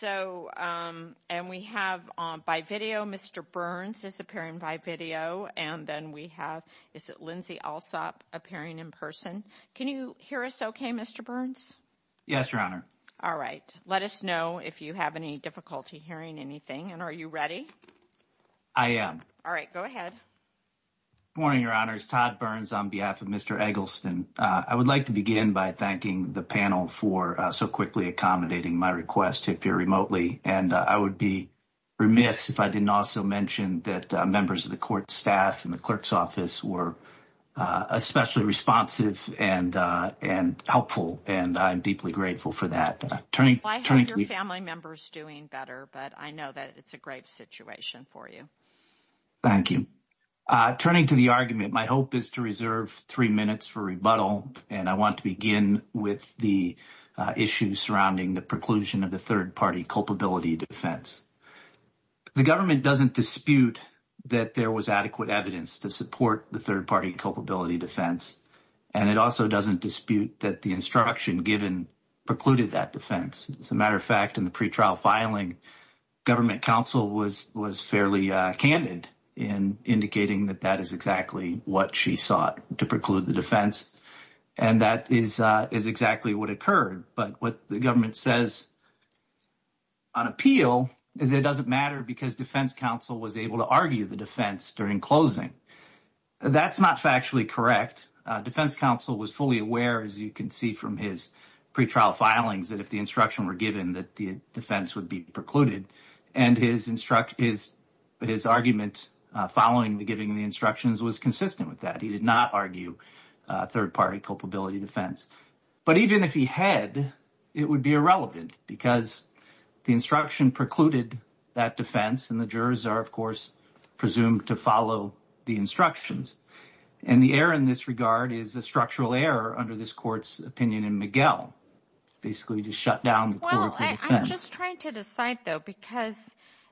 so and we have on by video Mr. Burns is appearing by video and then we have is it Lindsay also appearing in person can you hear us okay Mr. Burns yes your honor all right let us know if you have any difficulty hearing anything and are you ready I am all right go ahead morning your honors Todd Burns on behalf of Mr. Eggleston I would like to begin by thanking the panel for so quickly accommodating my request to appear remotely and I would be remiss if I didn't also mention that members of the court staff and the clerk's office were especially responsive and and helpful and I'm deeply grateful for that turning family members doing better but I know that it's a great situation for you thank you turning to the argument my hope is to reserve three minutes for to begin with the issues surrounding the preclusion of the third party culpability defense the government doesn't dispute that there was adequate evidence to support the third party culpability defense and it also doesn't dispute that the instruction given precluded that defense as a matter of fact in the pretrial filing government counsel was was fairly candid in indicating that that is exactly what she sought to preclude the defense and that is is exactly what occurred but what the government says on appeal is it doesn't matter because defense counsel was able to argue the defense during closing that's not factually correct defense counsel was fully aware as you can see from his pretrial filings that if the instruction were given that the defense would be precluded and his instruct is his argument following the giving the instructions was consistent with that he did not argue third party culpability defense but even if he had it would be irrelevant because the instruction precluded that defense and the jurors are of course presumed to follow the instructions and the error in this regard is the structural error under this court's opinion in Miguel basically to shut down just trying to decide though because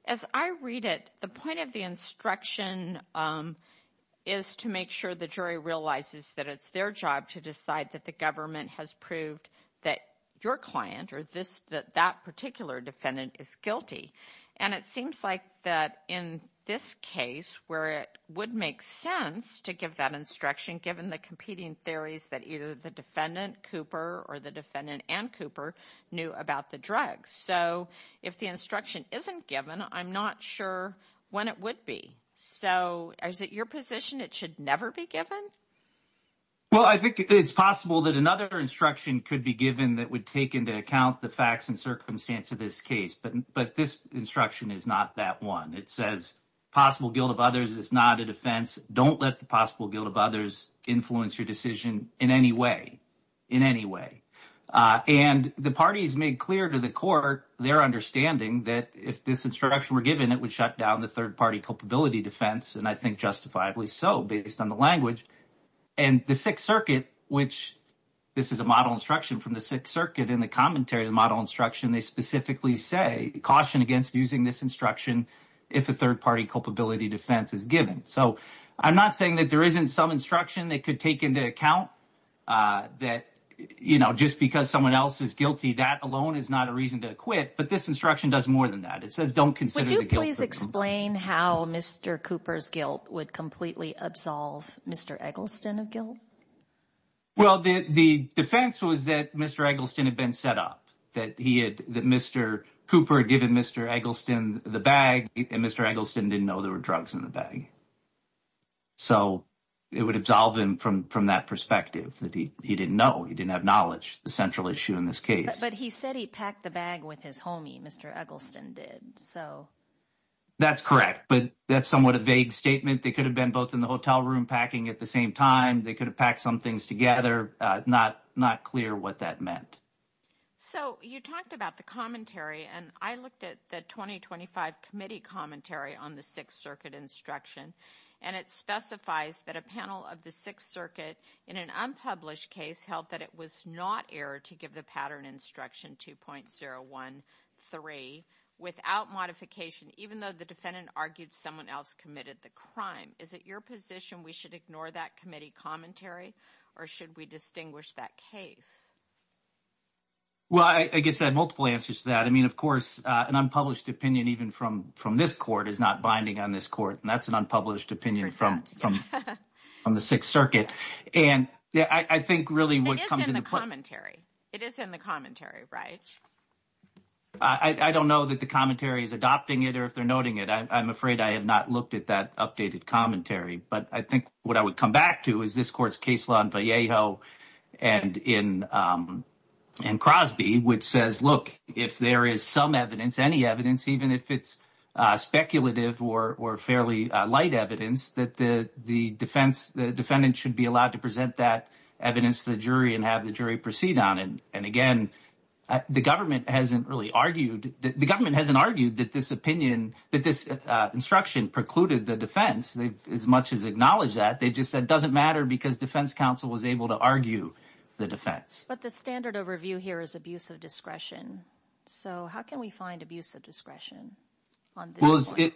as I read it the point of the instruction is to make sure the jury realizes that it's their job to decide that the government has proved that your client or this that that particular defendant is guilty and it seems like that in this case where it would make sense to give that given the competing theories that either the defendant Cooper or the defendant and Cooper knew about the drugs so if the instruction isn't given I'm not sure when it would be so is it your position it should never be given well I think it's possible that another instruction could be given that would take into account the facts and circumstance of this case but but this instruction is not that one it says possible guilt of others it's not a there's influence your decision in any way in any way and the parties made clear to the court their understanding that if this instruction were given it would shut down the third party culpability defense and I think justifiably so based on the language and the Sixth Circuit which this is a model instruction from the Sixth Circuit in the commentary the model instruction they specifically say caution against using this instruction if a third party culpability defense is given so I'm not saying that there isn't some instruction they could take into account that you know just because someone else is guilty that alone is not a reason to quit but this instruction does more than that it says don't consider the guilty explain how mr. Cooper's guilt would completely absolve mr. Eggleston of guilt well the defense was that mr. Eggleston had been set up that he had that mr. Cooper given mr. Eggleston the bag and mr. Eggleston didn't know there were drugs in the bag so it would absolve him from from that perspective that he didn't know he didn't have knowledge the central issue in this case but he said he packed the bag with his homie mr. Eggleston did so that's correct but that's somewhat a vague statement they could have been both in the hotel room packing at the same time they could have packed some things together not not clear what that meant so you talked about the commentary and I looked at the 2025 committee commentary on the Sixth Circuit instruction and it specifies that a panel of the Sixth Circuit in an unpublished case held that it was not error to give the pattern instruction 2.0 1 3 without modification even though the defendant argued someone else committed the crime is it your position we should ignore that commentary or should we distinguish that case well I guess that multiple answers to that I mean of course an unpublished opinion even from from this court is not binding on this court and that's an unpublished opinion from on the Sixth Circuit and yeah I think really what comes in the commentary it is in the commentary right I don't know that the commentary is adopting it or if they're noting it I'm afraid I have not looked at that updated commentary but I think what I would come back to is this court's case law in Vallejo and in and Crosby which says look if there is some evidence any evidence even if it's speculative or or fairly light evidence that the the defense the defendant should be allowed to present that evidence to the jury and have the jury proceed on it and again the government hasn't really argued that the government hasn't argued that this opinion that this instruction precluded the defense they've as much as acknowledged that they just said doesn't matter because defense counsel was able to argue the defense but the standard of review here is abuse of discretion so how can we find abuse of discretion well it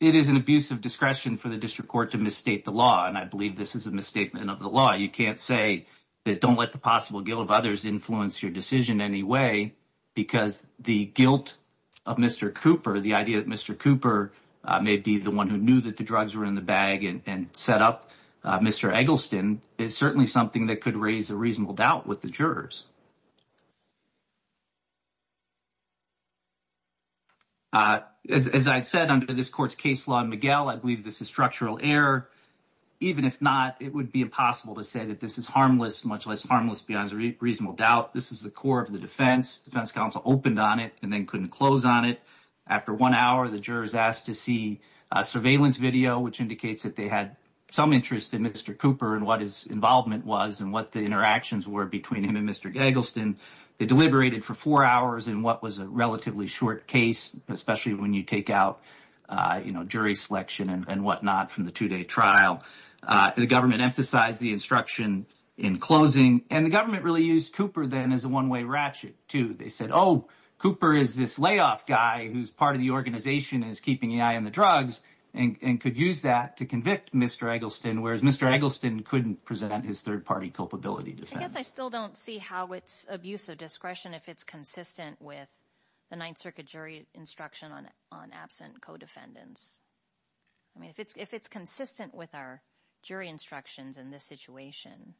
it is an abuse of discretion for the district court to misstate the law and I believe this is a misstatement of the law you can't say that don't let the possible guilt of others influence your decision anyway because the guilt of mr. Cooper the idea that mr. Cooper may be the one who knew that the drugs were in the bag and set up mr. Eggleston is certainly something that could raise a reasonable doubt with the jurors as I said under this court's case law and Miguel I believe this is structural error even if not it would be impossible to say that this is harmless much less harmless beyond a reasonable doubt this is the core of the defense defense opened on it and then couldn't close on it after one hour the jurors asked to see surveillance video which indicates that they had some interest in mr. Cooper and what his involvement was and what the interactions were between him and mr. Eggleston they deliberated for four hours and what was a relatively short case especially when you take out you know jury selection and whatnot from the two-day trial the government emphasized the instruction in closing and the government really used Cooper then as a one-way ratchet to they said oh Cooper is this layoff guy who's part of the organization is keeping an eye on the drugs and could use that to convict mr. Eggleston whereas mr. Eggleston couldn't present on his third party culpability defense I still don't see how it's abuse of discretion if it's consistent with the Ninth Circuit jury instruction on on absent co-defendants I mean if it's if it's consistent with our jury instructions in this situation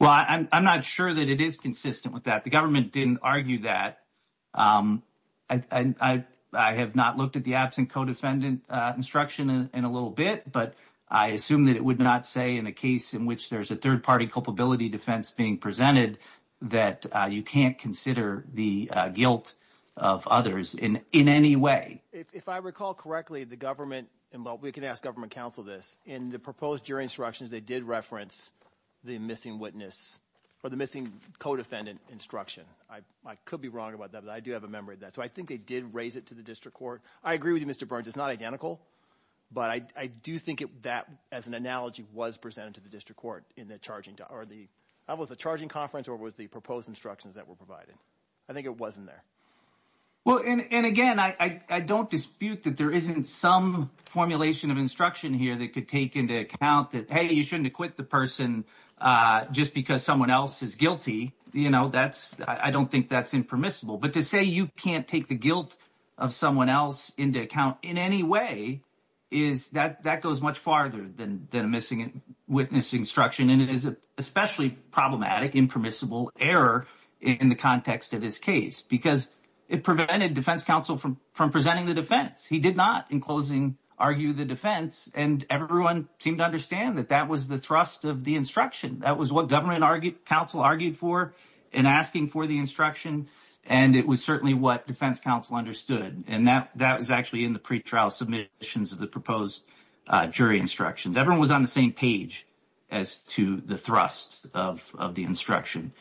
well I'm not sure that it is consistent with that the government didn't argue that I have not looked at the absent co-defendant instruction in a little bit but I assume that it would not say in a case in which there's a third party culpability defense being presented that you can't consider the guilt of others in in any way if I recall correctly the government and what we can ask government counsel this in the proposed jury instructions they did reference the missing witness or the missing co-defendant instruction I could be wrong about that but I do have a memory that so I think they did raise it to the district court I agree with you mr. Burns it's not identical but I do think it that as an analogy was presented to the district court in the charging to are the I was a charging conference or was the proposed instructions that were provided I think it wasn't there well and again I I don't dispute that there isn't some formulation of instruction here that could take into account that hey you shouldn't acquit the person just because someone else is guilty you know that's I don't think that's impermissible but to say you can't take the guilt of someone else into account in any way is that that goes much farther than the missing it witness instruction and it is a especially problematic impermissible error in the of his case because it prevented defense counsel from from presenting the defense he did not in closing argue the defense and everyone seemed to understand that that was the thrust of the instruction that was what government argued counsel argued for and asking for the instruction and it was certainly what defense counsel understood and that that was actually in the pretrial submissions of the proposed jury instructions everyone was on the same page as to the of of the instruction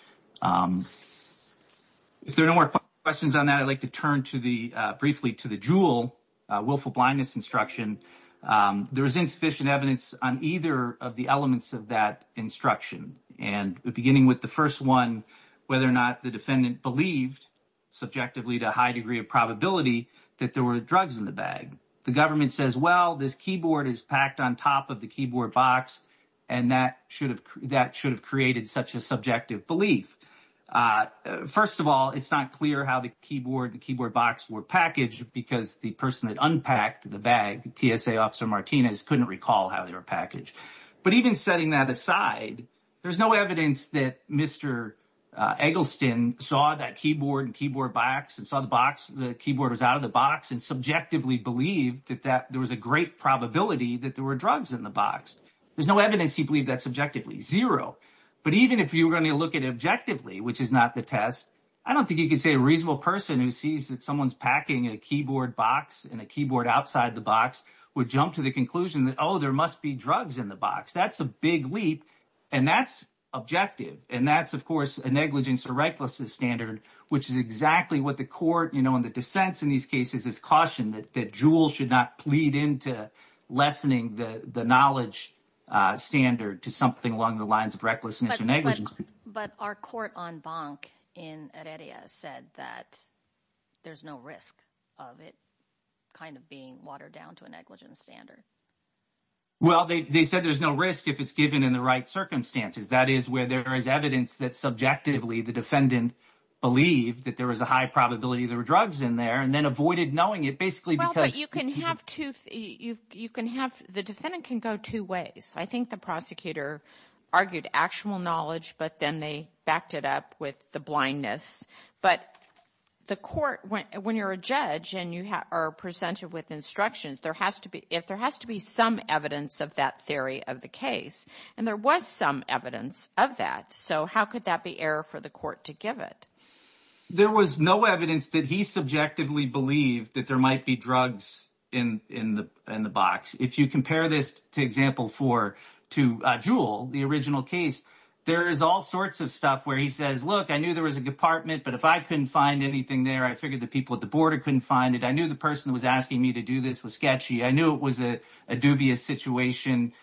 if there are no more questions on that I'd like to turn to the briefly to the jewel willful blindness instruction there is insufficient evidence on either of the elements of that instruction and beginning with the first one whether or not the defendant believed subjectively to a high degree of probability that there were drugs in the bag the government says well this keyboard is packed on top of the keyboard box and and that should have that should have created such a subjective belief first of all it's not clear how the keyboard the keyboard box were packaged because the person that unpacked the bag TSA officer Martinez couldn't recall how they were packaged but even setting that aside there's no evidence that Mr. Eggleston saw that keyboard and keyboard box and saw the box the keyboard is out of the box and subjectively believe that that there was a great probability that there were drugs in the box there's no evidence he believed that subjectively zero but even if you were going to look at it objectively which is not the test I don't think you could say a reasonable person who sees that someone's packing a keyboard box and a keyboard outside the box would jump to the conclusion that oh there must be drugs in the box that's a big leap and that's objective and that's of course a negligence or recklessness standard which is exactly what the court you know in the dissents in these cases is caution that the jewel should not lead into lessening the the knowledge standard to something along the lines of recklessness or negligence but our court on bank in area said that there's no risk of it kind of being watered down to a negligence standard well they said there's no risk if it's given in the right circumstances that is where there is evidence that subjectively the defendant believed that there was a high probability there were drugs in there and then avoided knowing it basically because you can have to you can have the defendant can go two ways I think the prosecutor argued actual knowledge but then they backed it up with the blindness but the court went when you're a judge and you have our presented with instruction there has to be if there has to be some evidence of that theory of the case and there was some evidence of that so how could that be error for the court to give it there was no evidence that he subjectively believed that there might be drugs in the in the box if you compare this to example for to jewel the original case there is all sorts of stuff where he says look I knew there was a department but if I couldn't find anything there I figured the people at the border couldn't find it I knew the person was asking me to do this was sketchy I knew it was a dubious situation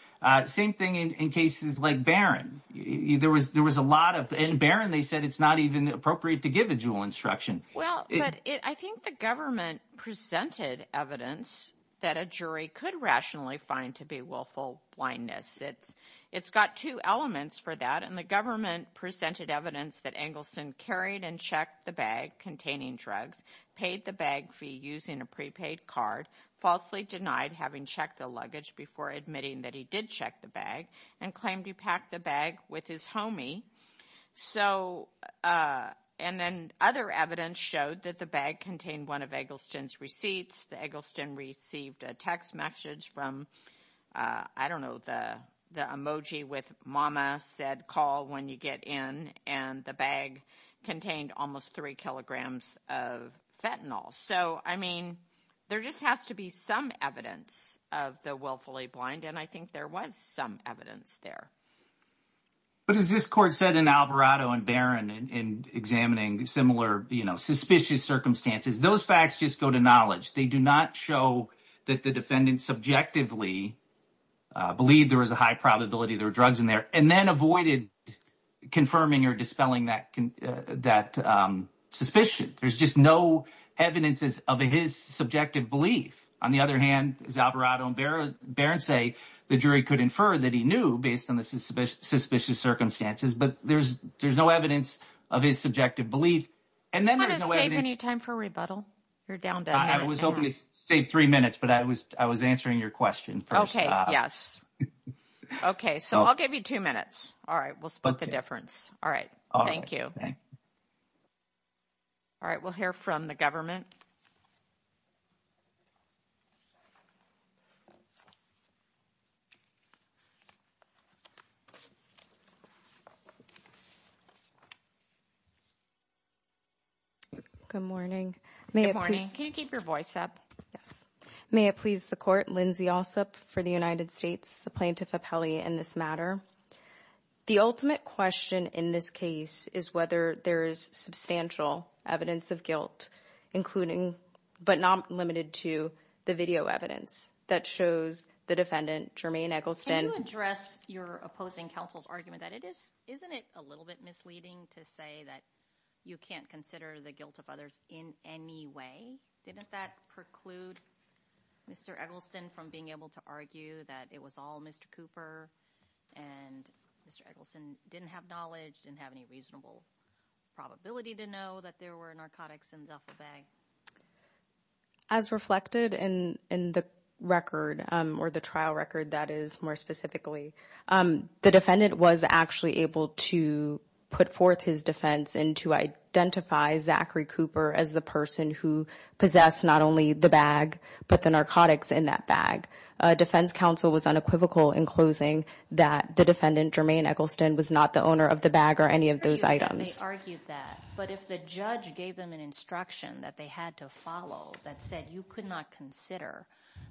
same thing in cases like Barron either was there was a lot of in Barron they said it's not even appropriate to give a jewel instruction well I think the government presented evidence that a jury could rationally find to be willful blindness it's it's got two elements for that and the government presented evidence that Engelson carried and checked the bag containing drugs paid the bag fee using a prepaid card falsely denied having checked the luggage before admitting that he did check the bag and claim to pack the bag with his homie so and then other evidence showed that the bag contained one of Eggleston's receipts the Eggleston received a text message from I don't know the the emoji with mama said call when you get in and the bag contained almost three kilograms of fentanyl so I mean there just has to be some evidence of the willfully blind and I think there was some evidence there but as this court said in Alvarado and Barron and examining similar you know suspicious circumstances those facts just go to knowledge they do not show that the defendant subjectively believe there was a high probability there were drugs in there and then avoided confirming or dispelling that can that suspicion there's just no evidences of his subjective belief on the other hand Alvarado and Barron say the jury could infer that he knew based on the suspicious circumstances but there's there's no evidence of his subjective belief and then there's no time for rebuttal you're down I was only saved three minutes but I was I was answering your question okay yes okay so I'll give you two minutes all right we'll split the difference all right all right thank you all right we'll hear from the good morning may morning can you keep your voice up may it please the court Lindsay all sup for the United States the plaintiff a Peli in this matter the ultimate question in this case is whether there is substantial evidence of guilt including but not limited to the video evidence that shows the defendant Jermaine Eggleston address your opposing counsel's argument that it is isn't it a little bit misleading to say that you can't consider the guilt of others in any way didn't that preclude mr. Eggleston from being able to argue that it was all mr. Cooper and mr. Eggleston didn't have knowledge and have any reasonable probability to know that there were narcotics in the bag as reflected in in the record or the trial record that is more specifically the defendant was actually able to put forth his defense and to identify Zachary Cooper as the person who possessed not only the bag but the narcotics in that bag defense counsel was unequivocal in closing that the defendant Jermaine Eggleston was not the owner of the bag or any of those items argued that but if the judge gave them an instruction that they had to follow that said you could not consider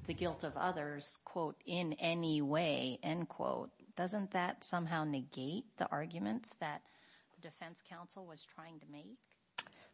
the guilt of others quote in any way end quote doesn't that somehow negate the arguments that defense counsel was trying to make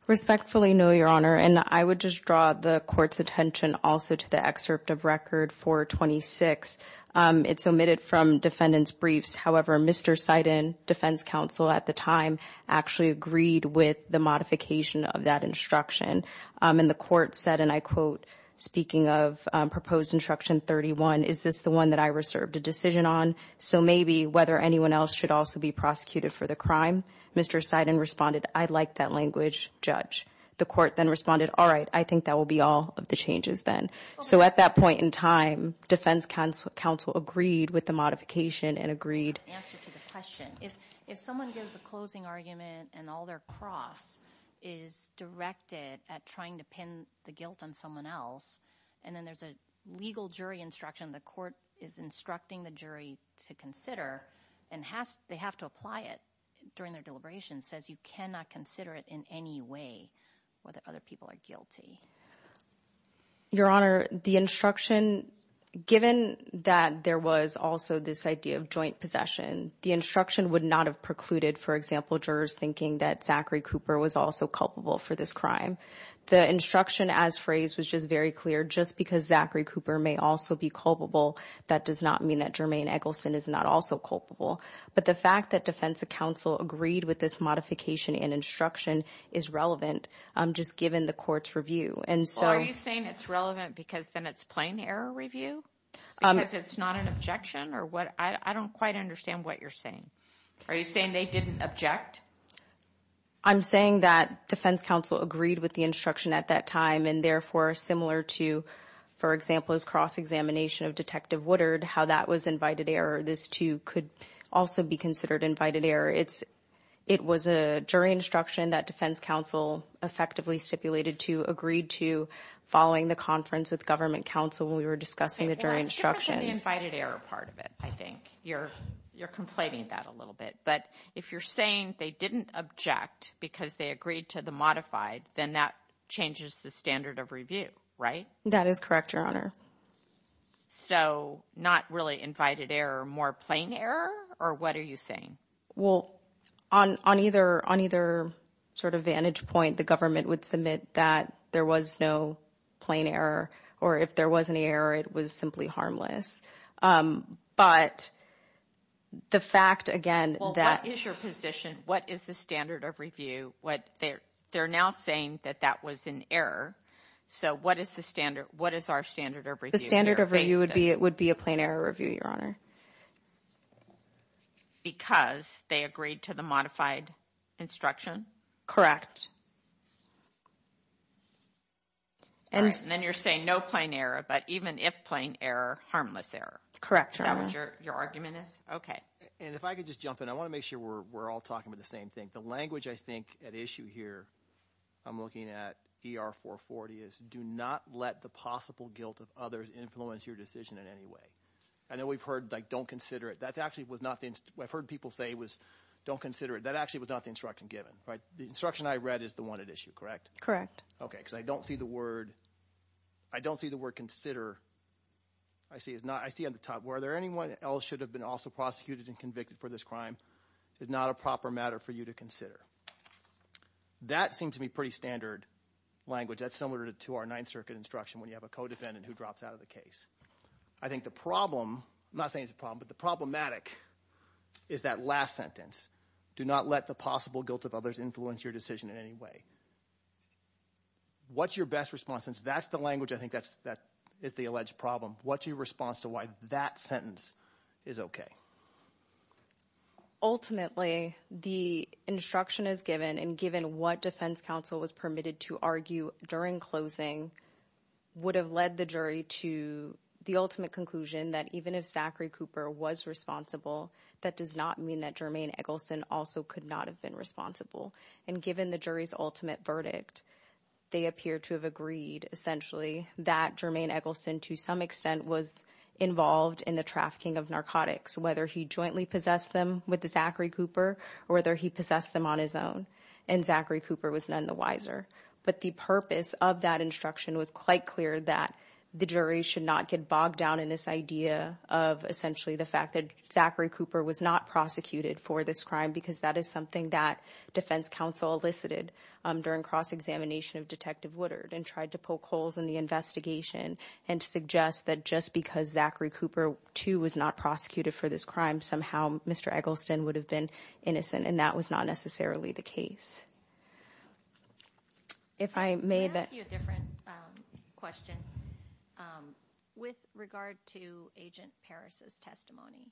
respectfully no your honor and I would just draw the court's attention also to the excerpt of record 426 it's omitted from defendants briefs however mr. Seiden defense counsel at the time actually agreed with the modification of that instruction in the court said and I quote speaking of proposed instruction 31 is this the one that I reserved a decision on so maybe whether anyone else should also be prosecuted for the crime mr. Seiden responded I'd like that language judge the court then responded all right I think that will be all of the changes then so at that point in time defense counsel counsel agreed with the modification and agreed if someone gives a closing argument and all their cross is directed at trying to pin the guilt on someone else and then there's a legal jury instruction the court is instructing the jury to consider and has they have to apply it during their deliberation says you cannot consider it in any way whether other people are guilty your honor the instruction given that there was also this idea of joint possession the instruction would not have precluded for example jurors thinking that Zachary Cooper was also culpable for this crime the instruction as phrased was just very clear just because Zachary Cooper may also be culpable that does not mean that Jermaine Eggleston is not also culpable but the fact that defensive counsel agreed with this modification and instruction is relevant I'm just given the court's review and so are you saying it's relevant because then it's plain error review it's not an objection or what I don't quite understand what you're saying are you saying they didn't object I'm saying that defense counsel agreed with the instruction at that time and therefore similar to for example is cross-examination of detective Woodard how that was invited error this too could also be considered invited error it's it was a jury instruction that defense counsel effectively stipulated to agreed to following the conference with government counsel when we were discussing the jury instruction part of it I think you're you're conflating that a little bit but if you're saying they didn't object because they agreed to the modified then that changes the standard of review right that is correct your honor so not really invited error more plain error or what are you saying well on on either on either sort of vantage point the government would submit that there was no plain error or if there was an error it was simply harmless but the fact again that is your position what is the standard of review what they're they're now saying that that was an error so what is the standard what is our standard of review standard of review would be it would be a plain error review your honor because they agreed to the modified instruction correct and then you're saying no plain error but even if plain error harmless error correct your argument is okay and if I could just jump in I want to make sure we're all talking about the same thing the language I think at issue here I'm looking at er 440 is do not let the guilt of others influence your decision in any way and then we've heard like don't consider it that's actually was nothing I've heard people say was don't consider it that actually was not the instruction given right the instruction I read is the one at issue correct correct okay because I don't see the word I don't see the word consider I see it's not I see on the top where there anyone else should have been also prosecuted and convicted for this crime is not a proper matter for you to consider that seems to be pretty standard language that's similar to our Ninth Circuit instruction when you have a co-defendant who drops out of the case I think the problem I'm not saying it's a problem but the problematic is that last sentence do not let the possible guilt of others influence your decision in any way what's your best response since that's the language I think that's that is the alleged problem what's your response to why that sentence is okay ultimately the instruction is given and given what defense counsel was permitted to argue during closing would have led the jury to the ultimate conclusion that even if Zachary Cooper was responsible that does not mean that Jermaine Eggleston also could not have been responsible and given the jury's ultimate verdict they appear to have agreed essentially that Jermaine Eggleston to some extent was involved in the trafficking of narcotics whether he jointly possessed them with the Zachary Cooper or whether he possessed them on his own and Zachary of that instruction was quite clear that the jury should not get bogged down in this idea of essentially the fact that Zachary Cooper was not prosecuted for this crime because that is something that defense counsel elicited during cross-examination of detective Woodard and tried to poke holes in the investigation and to suggest that just because Zachary Cooper too was not prosecuted for this crime somehow mr. Eggleston would have been innocent and that was not necessarily the case if I made that question with regard to agent Paris's testimony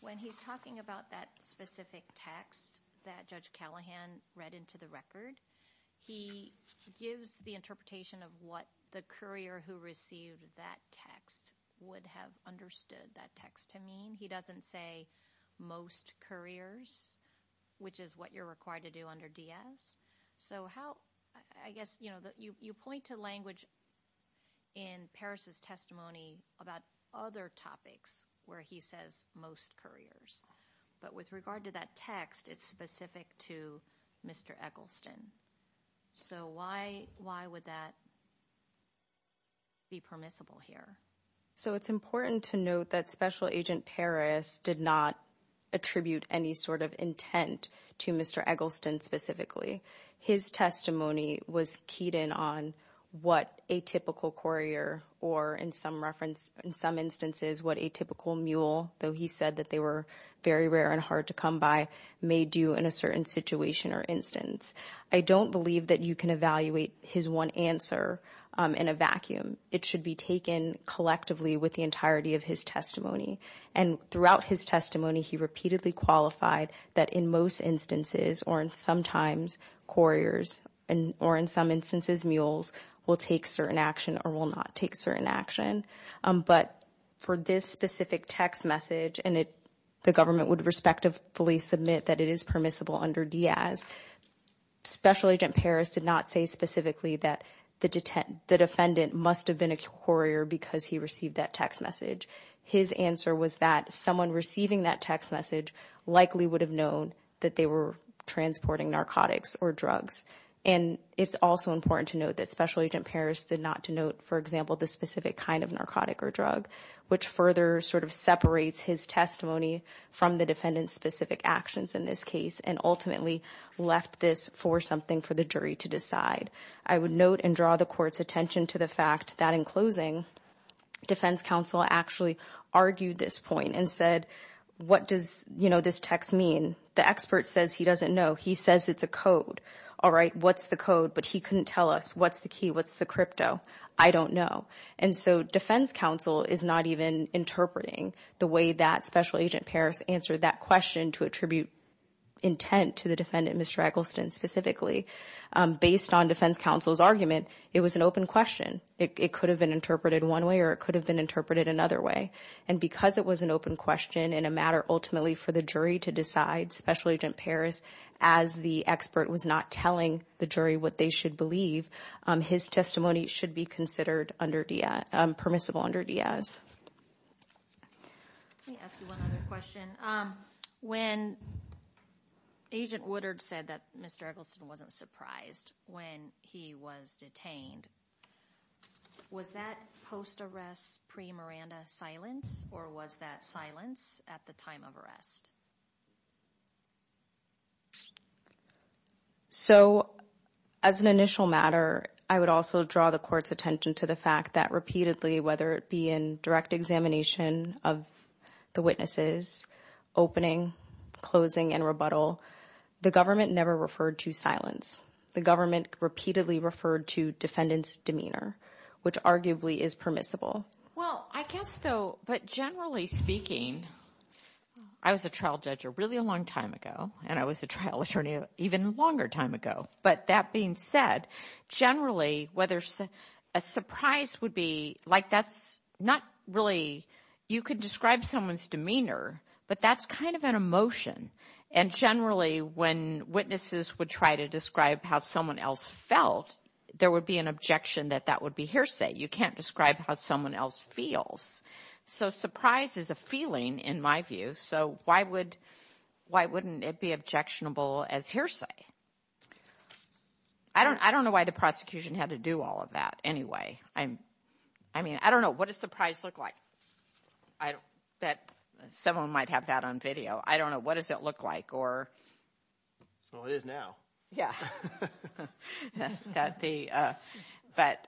when he's talking about that specific text that judge Callahan read into the record he gives the interpretation of what the courier who received that text would have understood that text to mean he doesn't say most couriers which is what you're required to do under DS so how I guess you know that you you point to language in Paris's testimony about other topics where he says most couriers but with regard to that text it's specific to mr. Eggleston so why why would that be permissible here so it's important to note that special agent Paris did not attribute any sort of intent to mr. Eggleston specifically his testimony was keyed in on what a typical courier or in some reference in some instances what a typical mule though he said that they were very rare and hard to come by made you in a certain situation or instance I don't believe that you can evaluate his one answer in a vacuum it should be collectively with the entirety of his testimony and throughout his testimony he repeatedly qualified that in most instances or in sometimes couriers and or in some instances mules will take certain action or will not take certain action but for this specific text message and it the government would respectively submit that it is permissible under Diaz special agent Paris did not say specifically that the detent the defendant must have been a courier because he received that text message his answer was that someone receiving that text message likely would have known that they were transporting narcotics or drugs and it's also important to note that special agent Paris did not denote for example the specific kind of narcotic or drug which further sort of separates his testimony from the defendant specific actions in this case and ultimately left this for something for the jury to decide I would note and draw the court's attention to the fact that in closing defense counsel actually argued this point and said what does you know this text mean the expert says he doesn't know he says it's a code all right what's the code but he couldn't tell us what's the key what's the crypto I don't know and so defense counsel is not even interpreting the way that special agent Paris answer that question to attribute intent to the defendant Mr. Eggleston specifically based on defense counsel's argument it was an open question it could have been interpreted one way or it could have been interpreted another way and because it was an open question in a matter ultimately for the jury to decide special agent Paris as the expert was not telling the jury what they should believe his testimony should be considered under Diaz permissible under Diaz when agent Woodard said that mr. Eggleston wasn't surprised when he was detained was that post arrest pre Miranda silence or was that silence at the time of arrest so as an initial matter I would also draw the court's attention to the fact that repeatedly whether it be in direct examination of the witnesses opening closing and rebuttal the government never referred to silence the government repeatedly referred to defendants demeanor which arguably is permissible well I guess though but generally speaking I was a trial judge a really a long time ago and I was a trial attorney even longer time ago but that being said generally whether a surprise would be like that's not really you could describe someone's demeanor but that's kind of an emotion and generally when witnesses would try to describe how someone else felt there would be an objection that that would be hearsay you can't describe how someone else feels so surprise is a feeling in my view so why would why wouldn't it be objectionable as hearsay I don't I don't know why the prosecution had to do all of that anyway I'm I mean I don't know what a surprise look like I bet someone might have that on video I don't know what does it look like or well it is now yeah but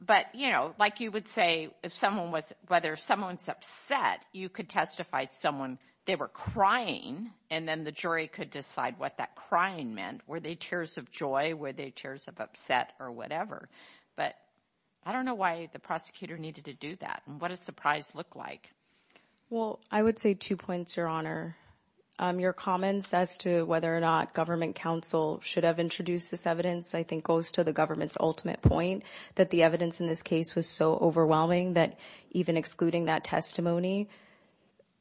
but you know like you would say if someone was whether someone's upset you could testify someone they were crying and then the jury could decide what that crying meant were they tears of joy were they tears of upset or whatever but I don't know why the prosecutor needed to do that what a surprise look like well I would say two points your honor your comments as to whether or not government counsel should have introduced this evidence I think goes to the government's ultimate point that the evidence in this case was so overwhelming that even excluding that testimony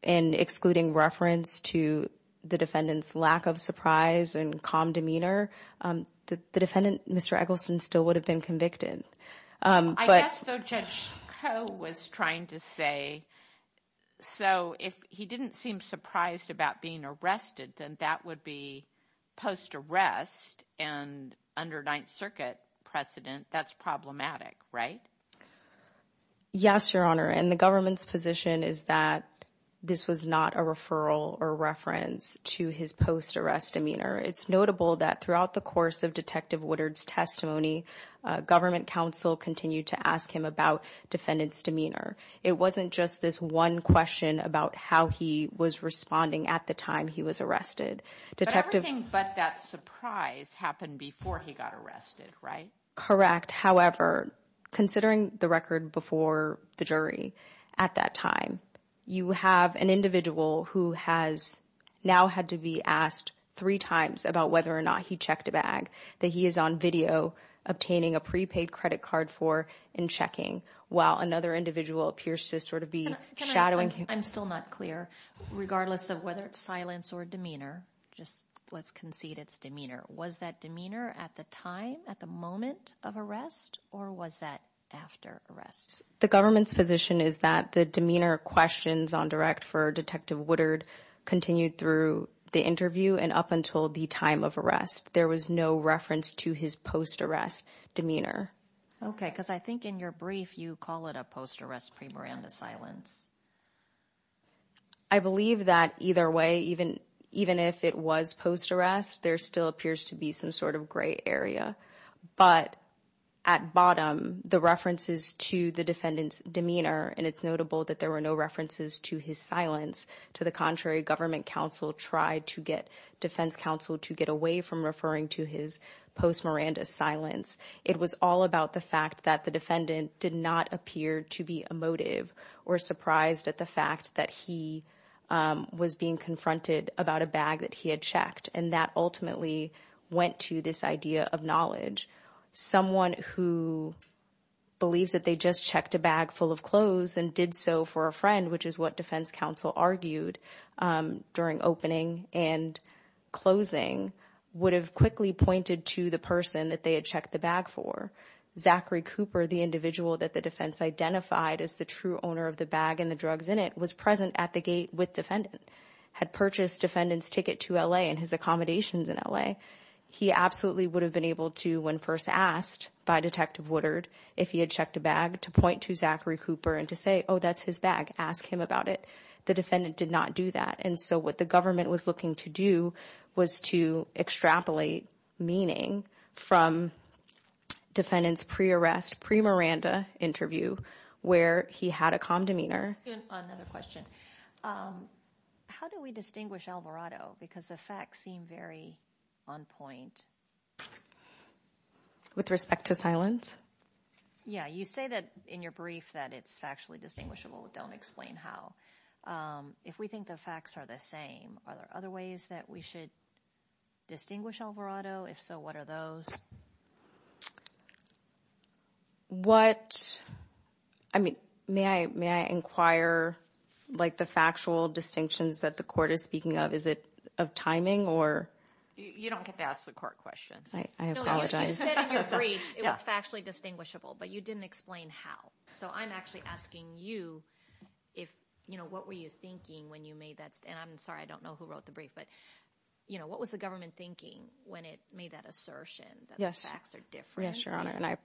and excluding reference to the defendant's lack of surprise and calm demeanor the defendant mr. Eggleston still would have been convicted was trying to say so if he didn't seem surprised about being arrested then that would be post arrest and under Ninth Circuit precedent that's problematic right yes your honor and the government's position is that this was not a referral or reference to his post arrest demeanor it's notable that throughout the course of detective Woodard's testimony government counsel continued to ask him about defendants demeanor it wasn't just this one question about how he was responding at the time he was arrested detective but that surprise happened before he got arrested right correct however considering the record before the jury at that time you have an individual who has now had to be asked three times about whether or not he checked a bag that he is on video obtaining a prepaid credit card for in checking while another individual appears to sort of be shadowing I'm still not clear regardless of whether it's silence or demeanor just let's concede it's demeanor was that demeanor at the time at the moment of arrest or was that after arrest the government's position is that the demeanor questions on direct for detective Woodard continued through the interview and up until the time of there was no reference to his post arrest demeanor okay because I think in your brief you call it a post arrest pre Miranda silence I believe that either way even even if it was post arrest there still appears to be some sort of gray area but at bottom the references to the defendant's demeanor and it's notable that there were no references to his silence to the contrary government counsel tried to get defense counsel to get away from referring to his post Miranda silence it was all about the fact that the defendant did not appear to be emotive or surprised at the fact that he was being confronted about a bag that he had checked and that ultimately went to this idea of knowledge someone who believes that they just checked a bag full of clothes and did so for a which is what defense counsel argued during opening and closing would have quickly pointed to the person that they had checked the bag for Zachary Cooper the individual that the defense identified as the true owner of the bag and the drugs in it was present at the gate with defendant had purchased defendants ticket to LA and his accommodations in LA he absolutely would have been able to when first asked by detective Woodard if he had checked a to point to Zachary Cooper and to say oh that's his bag ask him about it the defendant did not do that and so what the government was looking to do was to extrapolate meaning from defendants pre-arrest pre Miranda interview where he had a calm demeanor how do we distinguish Alvarado because the facts on point with respect to silence yeah you say that in your brief that it's factually distinguishable don't explain how if we think the facts are the same are there other ways that we should distinguish Alvarado if so what are those what I mean may I may I inquire like the factual distinctions that the speaking of is it of timing or you don't get to ask the court questions I apologize actually distinguishable but you didn't explain how so I'm actually asking you if you know what were you thinking when you made that and I'm sorry I don't know who wrote the brief but you know what was the government thinking when it made that assertion yes facts are different sure honor and I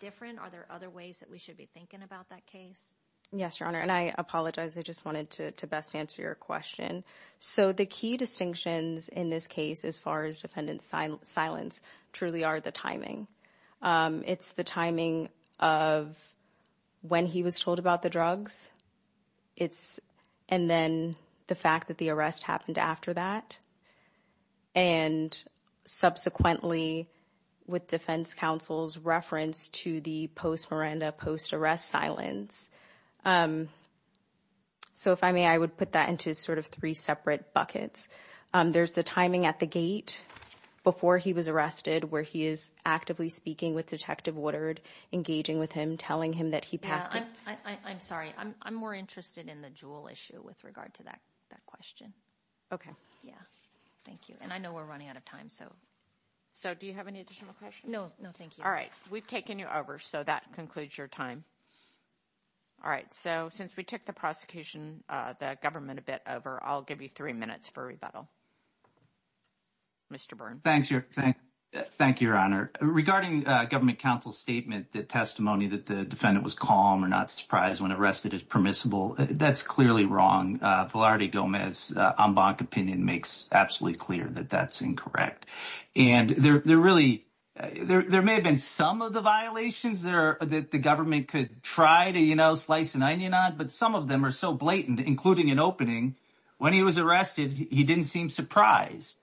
different are there other ways that we should be thinking about that case yes I apologize I just wanted to best answer your question so the key distinctions in this case as far as defendant silence truly are the timing it's the timing of when he was told about the drugs it's and then the fact that the arrest happened after that and subsequently with defense counsel's reference to the post Miranda post arrest silence so if I may I would put that into sort of three separate buckets there's the timing at the gate before he was arrested where he is actively speaking with detective Woodard engaging with him telling him that he packed I'm sorry I'm more interested in the jewel issue with regard to that that question okay yeah thank you and I know we're running out of time so so do you have any additional questions no no thank you all right we've taken you over so that concludes your time all right so since we took the prosecution the government a bit over I'll give you three minutes for rebuttal mr. Byrne thanks you're saying thank you your honor regarding government counsel statement that testimony that the defendant was calm or not surprised when arrested is permissible that's clearly wrong Flaherty Gomez on bonk opinion makes absolutely clear that that's incorrect and they're really there may have been some of the violations there that the government could try to you know slice an onion on but some of them are so blatant including an opening when he was arrested he didn't seem surprised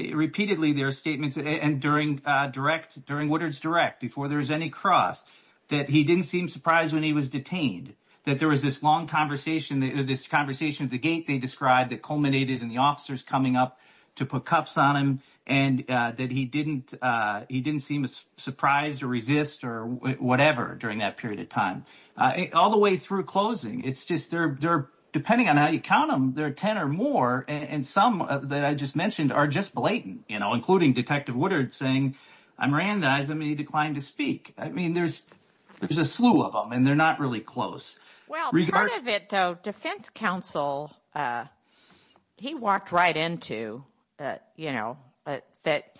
repeatedly their statements and during direct during Woodard's direct before there's any cross that he didn't seem surprised when he was detained that there was this long conversation this conversation at the gate they described that culminated in the officers coming up to put cuffs on him and that he didn't he didn't seem as surprised or resist or whatever during that period of time all the way through closing it's just they're depending on how you count them there are ten or more and some that I just mentioned are just blatant you know including detective Woodard saying I'm ran the eyes of me declined to speak I mean there's there's a slew of them and they're not really close defense counsel he walked right into you know but that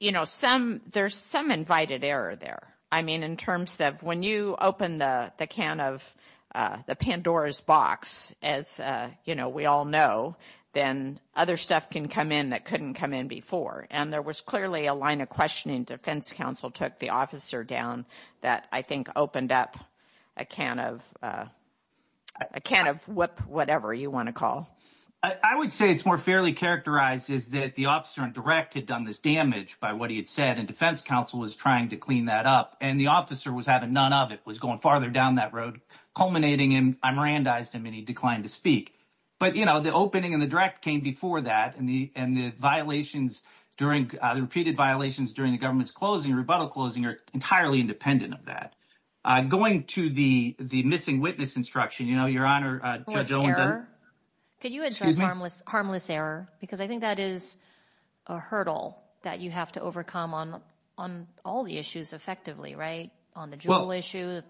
you know some there's some invited error there I mean in terms of when you open the can of the Pandora's box as you know we all know then other stuff can come in that couldn't come in before and there was clearly a line of questioning defense counsel took the officer down that I think opened up a can of a can of what whatever you want to call I would say it's more fairly characterized is that the officer and direct had done this damage by what he had said and defense counsel was trying to clean that up and the officer was having none of it was going farther down that road culminating in I'm ran diced him and he declined to speak but you know the opening and the direct came before that and the and the violations during the repeated violations during the government's closing rebuttal closing are entirely independent of that I'm going to the the missing witness instruction you know your honor could you address harmless harmless error because I think that is a hurdle that you have to overcome on on all the issues effectively right on the jewel issue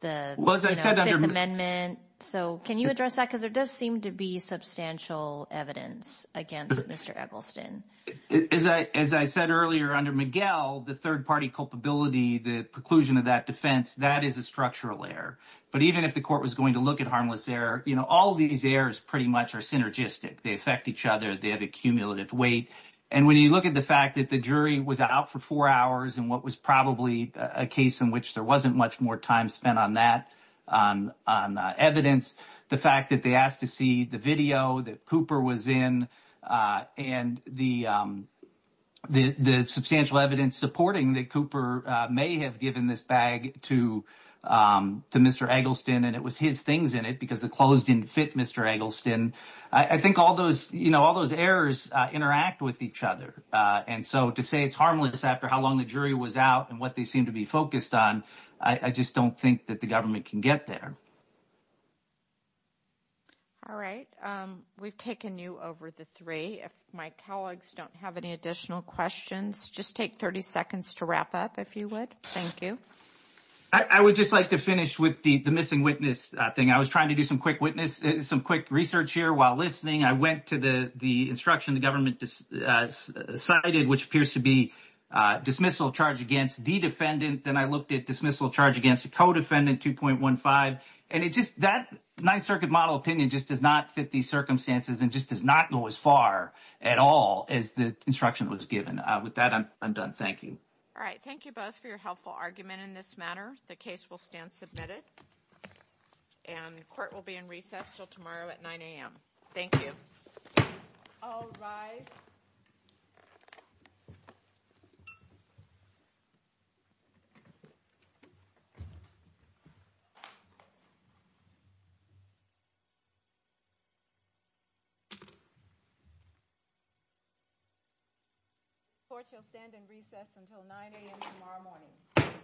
the amendment so can you address that because there does seem to be substantial evidence against mr. Miguel the third-party culpability the preclusion of that defense that is a structural error but even if the court was going to look at harmless error you know all these errors pretty much are synergistic they affect each other they have a cumulative weight and when you look at the fact that the jury was out for four hours and what was probably a case in which there wasn't much more time spent on that on evidence the fact that they asked to see the video that Cooper was in and the the substantial evidence supporting that Cooper may have given this bag to to mr. Eggleston and it was his things in it because the clothes didn't fit mr. Eggleston I think all those you know all those errors interact with each other and so to say it's harmless after how long the jury was out and what they seem to be focused on I just don't think that the can get there all right we've taken you over the three if my colleagues don't have any additional questions just take 30 seconds to wrap up if you would thank you I would just like to finish with the the missing witness thing I was trying to do some quick witness some quick research here while listening I went to the the instruction the government decided which appears to be dismissal charge against the defendant then I looked at dismissal charge against a co-defendant 2.15 and it just that nice circuit model opinion just does not fit these circumstances and just does not go as far at all as the instruction was given with that I'm done thank you all right thank you both for your helpful argument in this matter the case will stand submitted and court will be in recess till tomorrow at 9 a.m. thank you you for chill stand and recess until 9 a.m. tomorrow morning